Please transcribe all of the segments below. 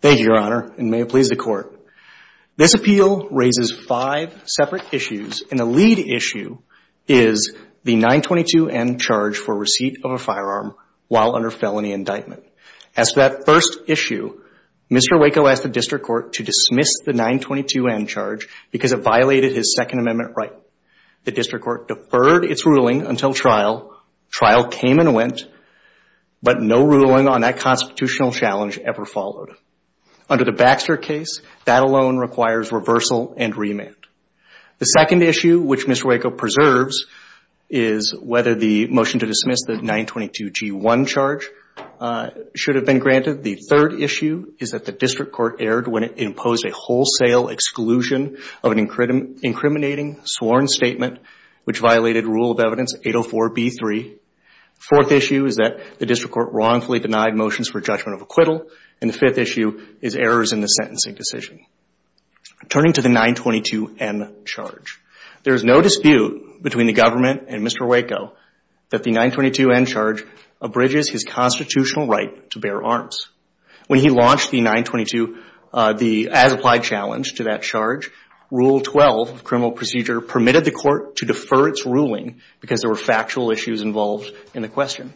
Thank you, Your Honor, and may it please the Court. This appeal raises five separate issues, and the lead issue is the 922M charge for receipt of a firearm while under felony indictment. As for that first issue, Mr. Wako asked the District Court to dismiss the 922M charge because it violated his Second Amendment right. The District Court deferred its ruling until trial. Trial came and went, but no ruling on that constitutional challenge ever followed. Under the Baxter case, that alone requires reversal and remand. The second issue, which should have been granted, the third issue is that the District Court erred when it imposed a wholesale exclusion of an incriminating sworn statement which violated Rule of Evidence 804B3. Fourth issue is that the District Court wrongfully denied motions for judgment of acquittal, and the fifth issue is errors in the sentencing decision. Turning to the 922M charge, there is no dispute between the government and Mr. Wako that the 922M charge abridges his constitutional right to bear arms. When he launched the 922, the as-applied challenge to that charge, Rule 12 of criminal procedure permitted the Court to defer its ruling because there were factual issues involved in the question.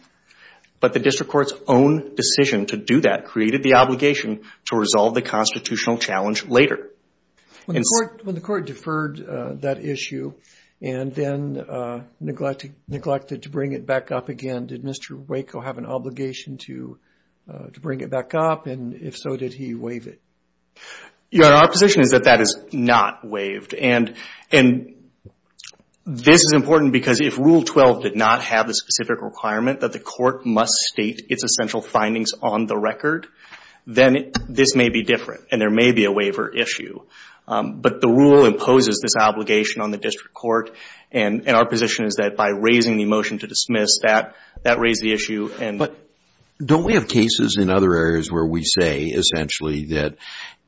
But the District Court's own decision to do that created the obligation to resolve the constitutional challenge later. When the Court deferred that issue and then neglected to bring it back up again, did Mr. Wako have an obligation to bring it back up, and if so, did he waive it? Your Honor, our position is that that is not waived, and this is important because if Rule 12 did not have the specific requirement that the Court must state its essential findings on the then this may be different, and there may be a waiver issue. But the Rule imposes this obligation on the District Court, and our position is that by raising the motion to dismiss that, that raised the issue. But don't we have cases in other areas where we say essentially that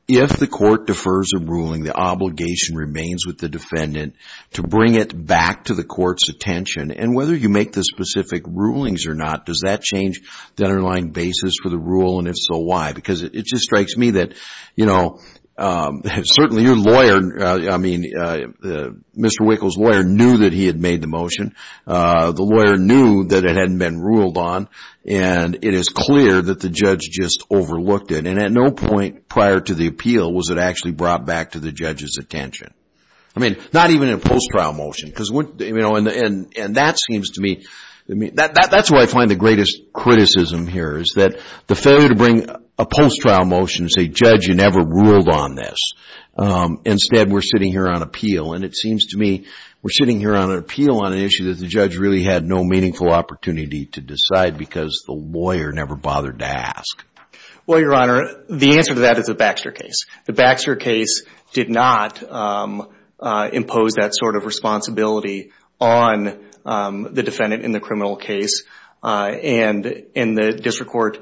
if the Court defers a ruling, the obligation remains with the defendant to bring it back to the Court's attention, and whether you make the specific rulings or not, does that change the underlying basis for the rule, and if so, why? Because it just strikes me that, you know, certainly your lawyer, I mean, Mr. Wako's lawyer knew that he had made the motion. The lawyer knew that it hadn't been ruled on, and it is clear that the judge just overlooked it, and at no point prior to the appeal was it actually brought back to the judge's attention. I mean, not even in a post-trial motion, because, you know, and that seems to me, that's where I find the greatest criticism here is that the failure to bring a post-trial motion to say, Judge, you never ruled on this. Instead, we're sitting here on appeal, and it seems to me we're sitting here on an appeal on an issue that the judge really had no meaningful opportunity to decide because the lawyer never bothered to ask. Well, Your Honor, the answer to that is a Baxter case. The Baxter case did not impose that sort of responsibility on the defendant in the criminal case, and the district court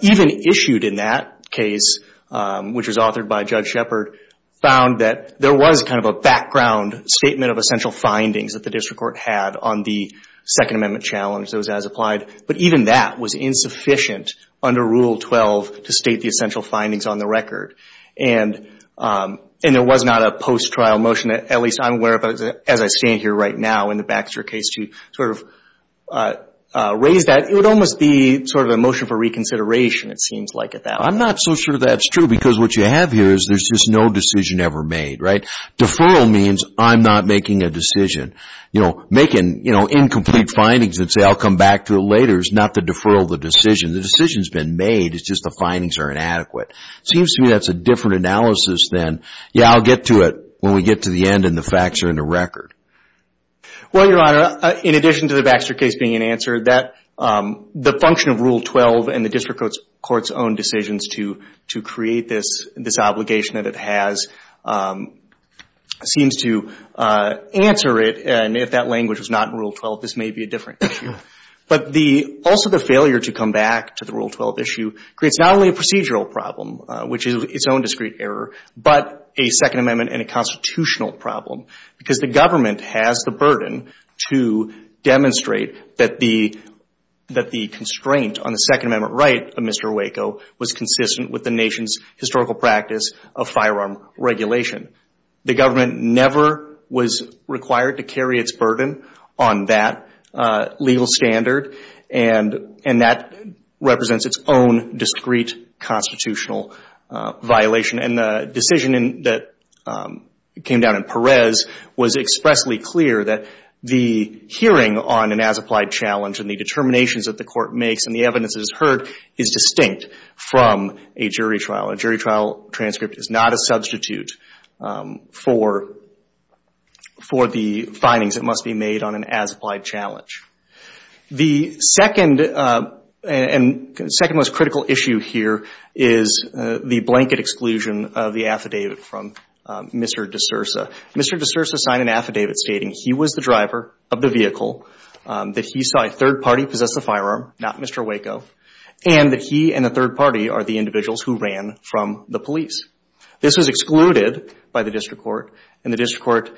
even issued in that case, which was authored by Judge Shepard, found that there was kind of a background statement of essential findings that the district court had on the Second Amendment challenge that was as applied, but even that was insufficient under Rule 12 to state the essential findings on the record. And there was not a post-trial motion, at least I'm aware of, as I stand here right now in the Baxter case to sort of raise that. It would almost be sort of a motion for reconsideration, it seems like at that. I'm not so sure that's true, because what you have here is there's just no decision ever made, right? Deferral means I'm not making a decision. You know, making, you know, incomplete findings that say I'll come back to it later is not the deferral of the decision. The decision's been made, it's just the findings are inadequate. Seems to me that's a different analysis than, yeah, I'll get to it when we get to the end and the facts are in the record. Well, Your Honor, in addition to the Baxter case being an answer, that the function of Rule 12 and the district court's own decisions to create this obligation that it has seems to answer it. And if that language was not in Rule 12, this may be a different issue. But also the failure to come back to the Rule 12 issue creates not only a procedural problem, which is its own discrete error, but a Second Amendment and a constitutional problem, because the government has the burden to demonstrate that the constraint on the Second Amendment right of Mr. Waco was consistent with the nation's historical practice of firearm regulation. The government never was required to carry its burden on that legal standard, and that represents its own discrete constitutional violation. And the decision that came down in Perez was expressly clear that the hearing on an as-applied challenge and the determinations that the court makes and the evidence that is heard is distinct from a jury trial. A jury trial transcript is not a substitute for the findings that must be made on an as-applied challenge. The second most critical issue here is the blanket exclusion of the affidavit from Mr. DeSursa. Mr. DeSursa signed an affidavit stating he was the driver of the vehicle, that he saw a third party possess the firearm, not Mr. Waco, and that he and the third party are the individuals who ran from the police. This was excluded by the district court, and the district court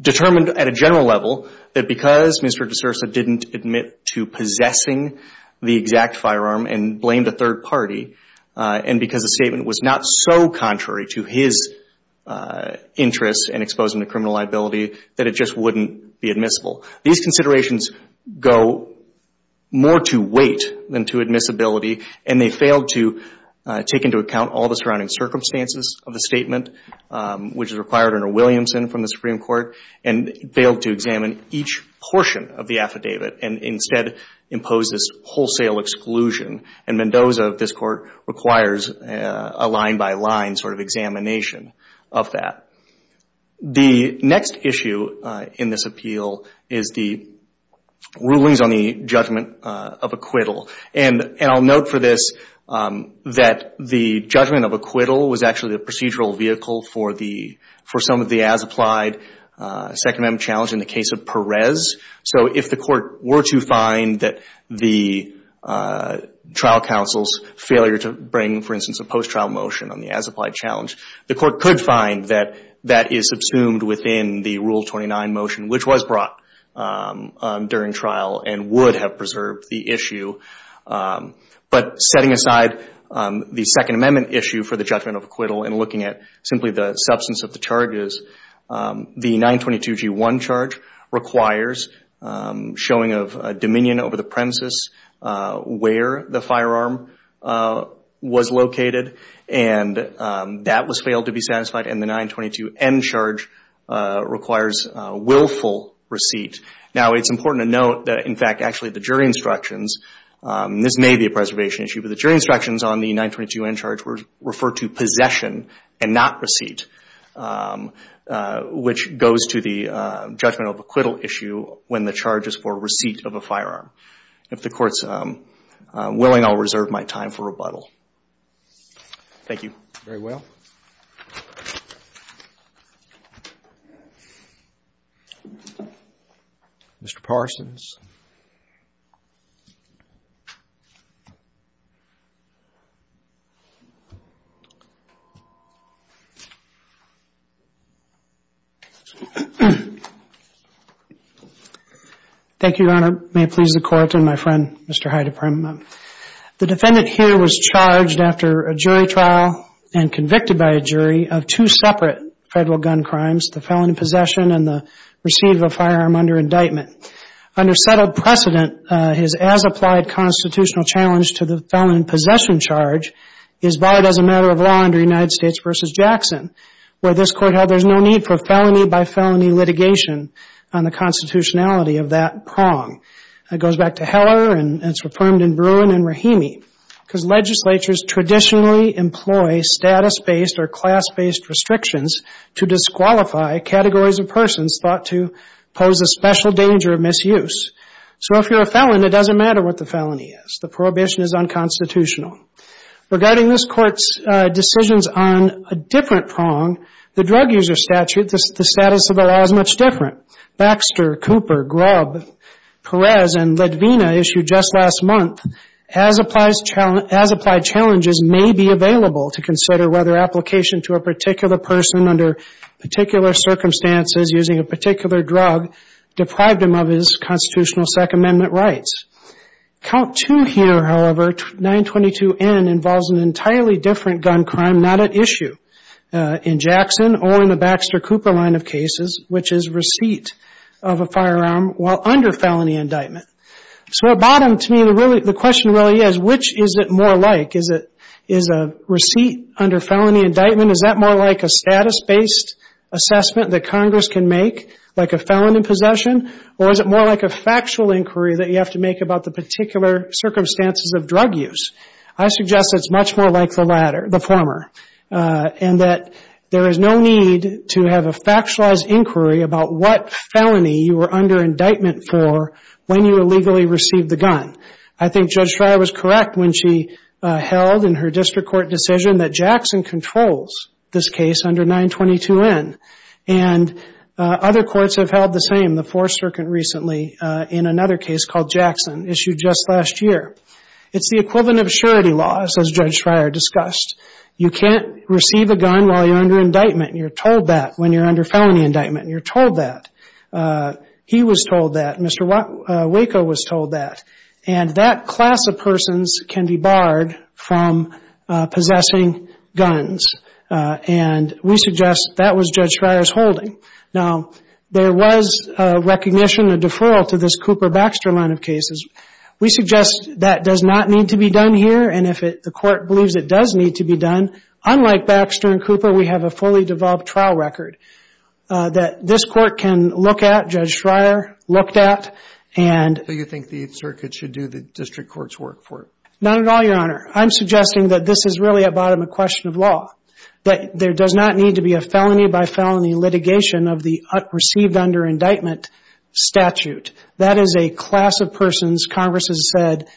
determined at a general level that because Mr. DeSursa didn't admit to possessing the exact firearm and blamed a third party, and because the statement was not so contrary to his interests in exposing the criminal liability, that it just wouldn't be admissible. These considerations go more to weight than to admissibility, and they failed to take into account all the surrounding circumstances of the statement, which is required under Williamson from the Supreme Court, and failed to examine each portion of the affidavit and instead impose this wholesale exclusion. Mendoza, this court, requires a line-by-line examination of that. The next issue in this appeal is the rulings on the judgment of acquittal. I'll note for this that the judgment of acquittal was actually the procedural vehicle for some of the as-applied Second Amendment challenge in the case of Perez. So if the court were to find that the trial counsel's failure to bring, for instance, a post-trial motion on the as-applied challenge, the court could find that that is subsumed within the Rule 29 motion, which was brought during trial and would have preserved the issue. But setting aside the Second Amendment issue for judgment of acquittal and looking at simply the substance of the charges, the 922G1 charge requires showing of dominion over the premises where the firearm was located, and that was failed to be satisfied, and the 922N charge requires willful receipt. Now, it's important to note that, in fact, actually the jury instructions, this may be a preservation issue, the jury instructions on the 922N charge refer to possession and not receipt, which goes to the judgment of acquittal issue when the charge is for receipt of a firearm. If the Court's willing, I'll reserve my time for rebuttal. Thank you. Very well. Mr. Parsons. Thank you, Your Honor. May it please the Court and my friend, Mr. Heideperm. The defendant here was charged after a jury trial and convicted by a jury of two separate federal gun crimes, the felony possession and the receipt of a firearm under indictment. Under settled precedent, his as-applied constitutional challenge to the felony possession charge is barred as a matter of law under United States v. Jackson, where this Court held there's no need for felony-by-felony litigation on the constitutionality of that prong. It goes back to Heller and it's reaffirmed in Bruin and Rahimi, because legislatures traditionally employ status-based or class-based restrictions to disqualify categories of persons thought to pose a special danger of misuse. So if you're a felon, it doesn't matter what the felony is. The prohibition is unconstitutional. Regarding this Court's decisions on a different prong, the drug user statute, the status of the law is much different. Baxter, Cooper, Grubb, Perez, and Ledvina issued just last month, as-applied challenges may be available to consider whether application to a particular person under particular circumstances using a particular drug deprived him of his constitutional Second Amendment rights. Count two here, however, 922N involves an entirely different gun crime not issue in Jackson or in the Baxter-Cooper line of cases, which is receipt of a firearm while under felony indictment. So at bottom to me, the question really is, which is it more like? Is a receipt under felony indictment, is that more like a status-based assessment that Congress can make like a felon in possession? Or is it more like a factual inquiry that you have to make about the circumstances of drug use? I suggest it's much more like the former, and that there is no need to have a factualized inquiry about what felony you were under indictment for when you illegally received the gun. I think Judge Frye was correct when she held in her district court decision that Jackson controls this case under 922N. And other courts have held the same, the Fourth Circuit recently in another case called Jackson, issued just last year. It's the equivalent of surety laws as Judge Frye discussed. You can't receive a gun while you're under indictment. You're told that when you're under felony indictment. You're told that. He was told that. Mr. Waco was told that. And that class of persons can be barred from possessing guns. And we suggest that was Judge Frye's holding. Now, there was a recognition, a deferral to this Cooper-Baxter line of cases. We suggest that does not need to be done here. And if the court believes it does need to be done, unlike Baxter and Cooper, we have a fully developed trial record that this court can look at, Judge Frye looked at, and... So you think the Circuit should do the district court's work for it? Not at all, Your Honor. I'm suggesting that this is really at bottom of question of law, that there does not need to be a felony by felony litigation of the received under indictment statute. That is a class of persons, Congress has said,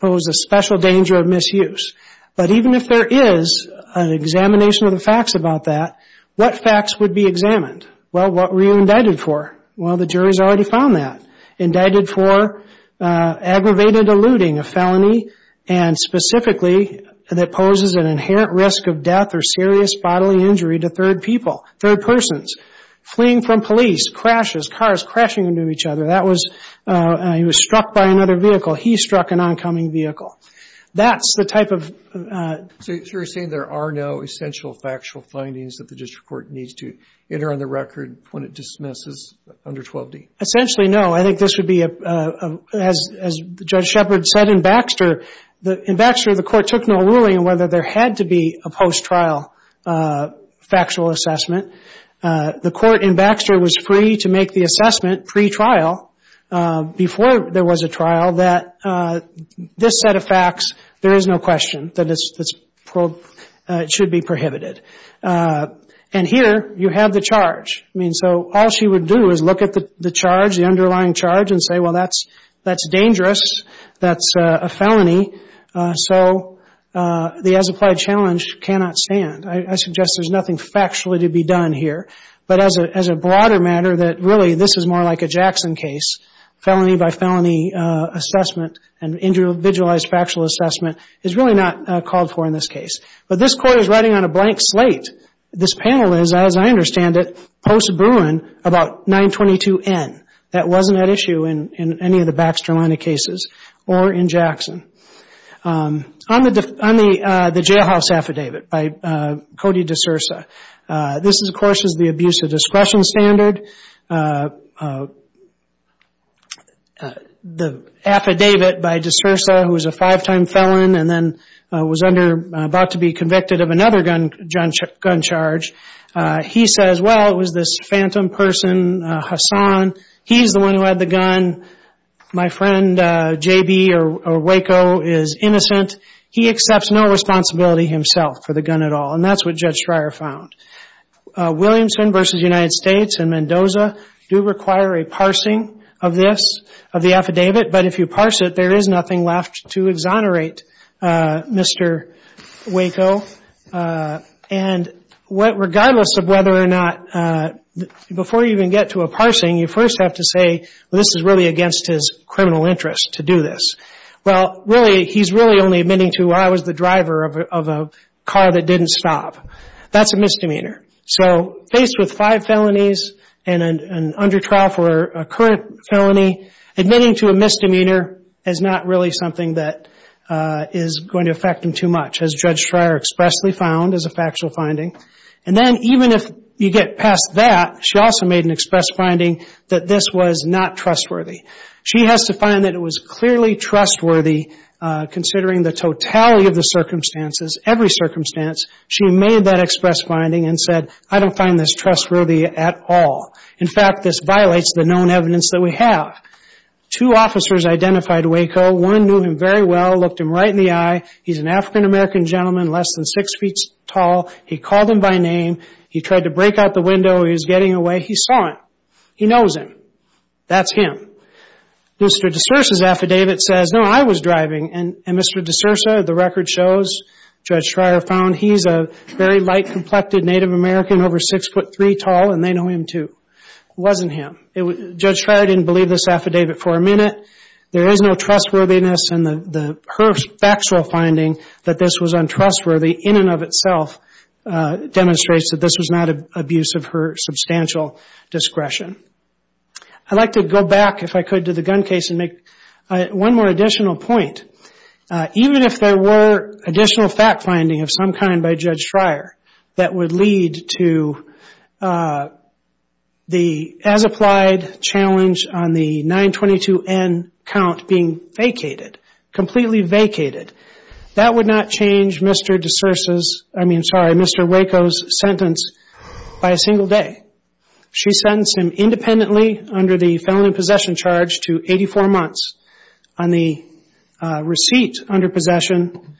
pose a special danger of misuse. But even if there is an examination of the facts about that, what facts would be examined? Well, what were you indicted for? Well, the jury's already found that. Indicted for aggravated eluding, a felony, and specifically that poses an inherent risk of death or serious bodily injury to third people, third persons. Fleeing from police, crashes, cars crashing into each other. He was struck by another vehicle. He struck an oncoming vehicle. That's the type of... So you're saying there are no essential factual findings that the district court needs to enter on the record when it dismisses under 12D? Essentially, no. I think this would be, as Judge Shepard said in Baxter, in Baxter the court took no ruling on whether there had to be a post-trial factual assessment. The court in Baxter was free to make the assessment pre-trial, before there was a trial, that this set of facts, there is no question that it should be prohibited. And here, you have the charge. I mean, so all she would do is look at the charge, the underlying charge, and say, well, that's dangerous. That's a felony. So the as-applied challenge cannot stand. I suggest there's nothing factually to be done here. But as a broader matter, that really this is more like a Jackson case. Felony by felony assessment and individualized factual assessment is really not called for in this case. But this court is writing on a blank slate. This panel is, as I understand it, post-Bruin about 922N. That wasn't at issue in any of the Baxter-Lenna cases or in Jackson. On the jailhouse affidavit by Cody DeSursa, this, of course, is the abuse of discretion standard. The affidavit by DeSursa, who was a five-time felon and then was under, about to be convicted of another gun charge, he says, well, it was this phantom person, Hassan. He's the one who had the gun. My friend J.B. or Waco is innocent. He accepts no responsibility himself for the gun at all. And that's what Judge Schreier found. Williamson v. United States and Mendoza do require a parsing of this, of the affidavit. But if you parse it, there is nothing left to exonerate Mr. Waco. And regardless of whether or not, before you even get to a parsing, you first have to say, well, this is really against his criminal interest to do this. Well, really, he's really only the driver of a car that didn't stop. That's a misdemeanor. So, faced with five felonies and an undertrial for a current felony, admitting to a misdemeanor is not really something that is going to affect him too much, as Judge Schreier expressly found as a factual finding. And then, even if you get past that, she also made an express finding that this was not trustworthy. She has to find that it was clearly trustworthy, considering the totality of the circumstances, every circumstance. She made that express finding and said, I don't find this trustworthy at all. In fact, this violates the known evidence that we have. Two officers identified Waco. One knew him very well, looked him right in the eye. He's an African-American gentleman, less than six feet tall. He called him by name. He tried to break out the window. He was getting away. He saw him. He knows him. That's him. Mr. Desursa's affidavit says, no, I was driving. And Mr. Desursa, the record shows, Judge Schreier found, he's a very light-complected Native American, over six foot three tall, and they know him too. It wasn't him. Judge Schreier didn't believe this affidavit for a minute. There is no trustworthiness in her factual finding that this was untrustworthy in and of itself demonstrates that this was not abuse of her substantial discretion. I'd like to go back, if I could, to the gun case and make one more additional point. Even if there were additional fact-finding of some kind by Judge Schreier that would lead to the as-applied challenge on the 922N count being vacated, completely vacated, that would not change Mr. Desursa's, I mean, sorry, Mr. Waco's sentence by a single day. She sentenced him independently under the felony possession charge to 84 months, on the receipt under possession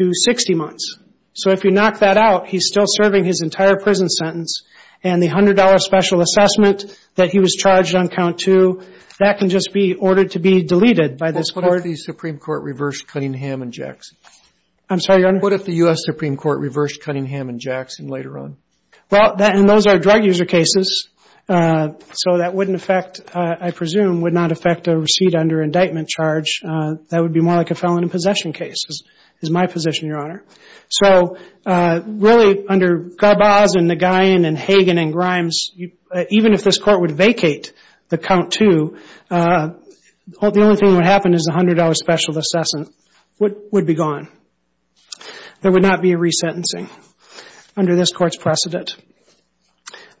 to 60 months. So if you knock that out, he's still serving his entire prison sentence, and the $100 special assessment that he was charged on count two, that can just be ordered to be deleted by this court. Why did the Supreme Court reverse Cunningham and Jackson? I'm sorry, Your Honor? What if the U.S. Supreme Court reversed Cunningham and Jackson later on? Well, and those are drug user cases, so that wouldn't affect, I presume, would not affect a receipt under indictment charge. That would be more like a felon in possession case, is my position, Your Honor. So really, under Garbaz and Nagayan and Hagen and Grimes, even if this court would vacate the count two, the only thing that would happen is the $100 special assessment would be gone. There would not be a resentencing under this court's precedent.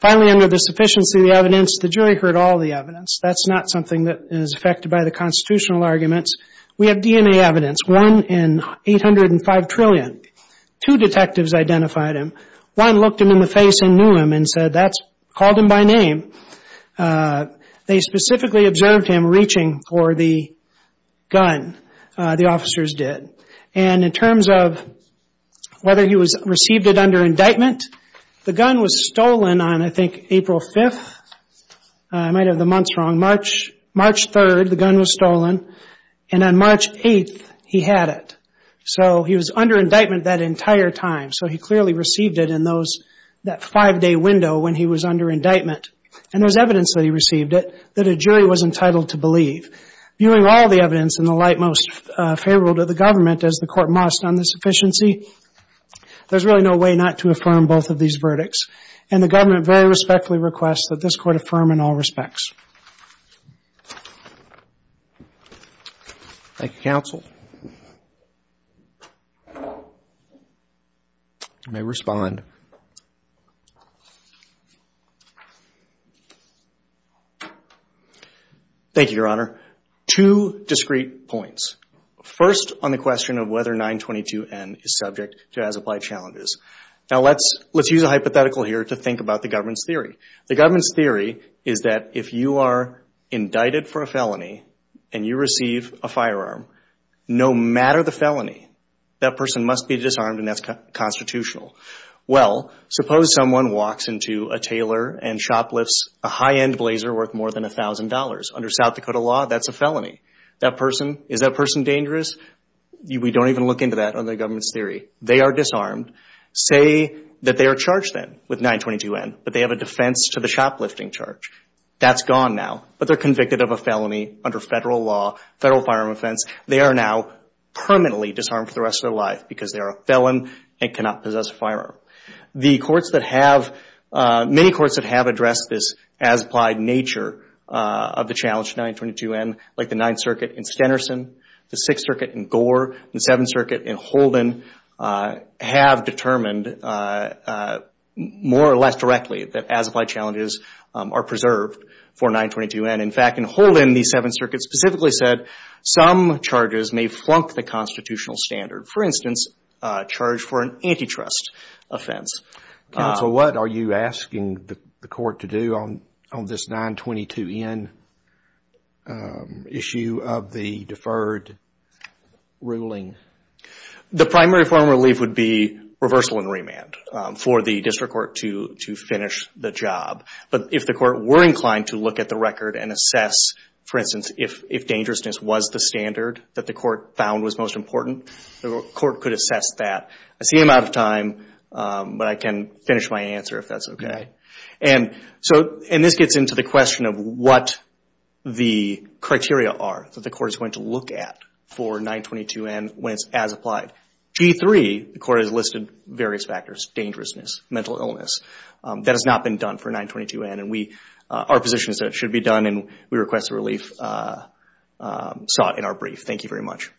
Finally, under the sufficiency of the evidence, the jury heard all the evidence. That's not something that is affected by the constitutional arguments. We have DNA evidence, one in 805 trillion. Two detectives identified him. One looked him in the face and knew him and said, called him by name. They specifically observed him reaching for the gun. The officers did. And in terms of whether he received it under indictment, the gun was stolen on, I think, April 5th. I might have the months wrong. March 3rd, the gun was stolen. And on March 8th, he had it. So he was under indictment that entire time. So he clearly received it in those, that five-day window when he was under indictment. And there's evidence that he received it that a jury was entitled to believe. Viewing all the evidence in the light most favorable to the government, as the court must on the sufficiency, there's really no way not to affirm both of these verdicts. And the government very respectfully requests that this court affirm in all respects. Thank you, counsel. You may respond. Thank you, Your Honor. Two discrete points. First, on the question of whether 922N is subject to as applied challenges. Now, let's use a hypothetical here to think about the government's theory. The government's theory is that if you are indicted for a felony and you receive a firearm, no matter the felony, that person must be disarmed and that's constitutional. Well, suppose someone walks into a tailor and shoplifts a high-end blazer worth more than $1,000. Under South Dakota law, that's a felony. Is that person dangerous? We don't even look into that under the government's theory. They are disarmed. Say that they are charged then with 922N, but they have a defense to the shoplifting charge. That's gone now, but they're convicted of a felony under federal law, federal firearm offense. They are now permanently disarmed for the rest of their life because they are a felon and cannot possess a firearm. The courts that have, many courts that have addressed this as applied nature of the challenge to 922N, like the Ninth Circuit in Stenerson, the Sixth Circuit in Gore, the Seventh Circuit in Holden have determined more or less directly that as applied challenges are preserved for 922N. In fact, in Holden, the Seventh Circuit specifically said some charges may flunk the constitutional standard. For instance, charge for an antitrust offense. Counsel, what are you asking the court to do on this 922N issue of the deferred ruling? The primary form of relief would be reversal and remand for the district court to finish the job. But if the court were inclined to look at the record and assess, for instance, if dangerousness was the standard that the court found was most important, the court could assess that. I see I'm out of time, but I can finish my answer if that's okay. And this gets into the question of what the criteria are that the court is going to look at for 922N when it's as applied. G3, the court has listed various factors, dangerousness, mental illness. That has not been done for 922N, and our position is that it should be done, and we request the relief sought in our brief. Thank you very much.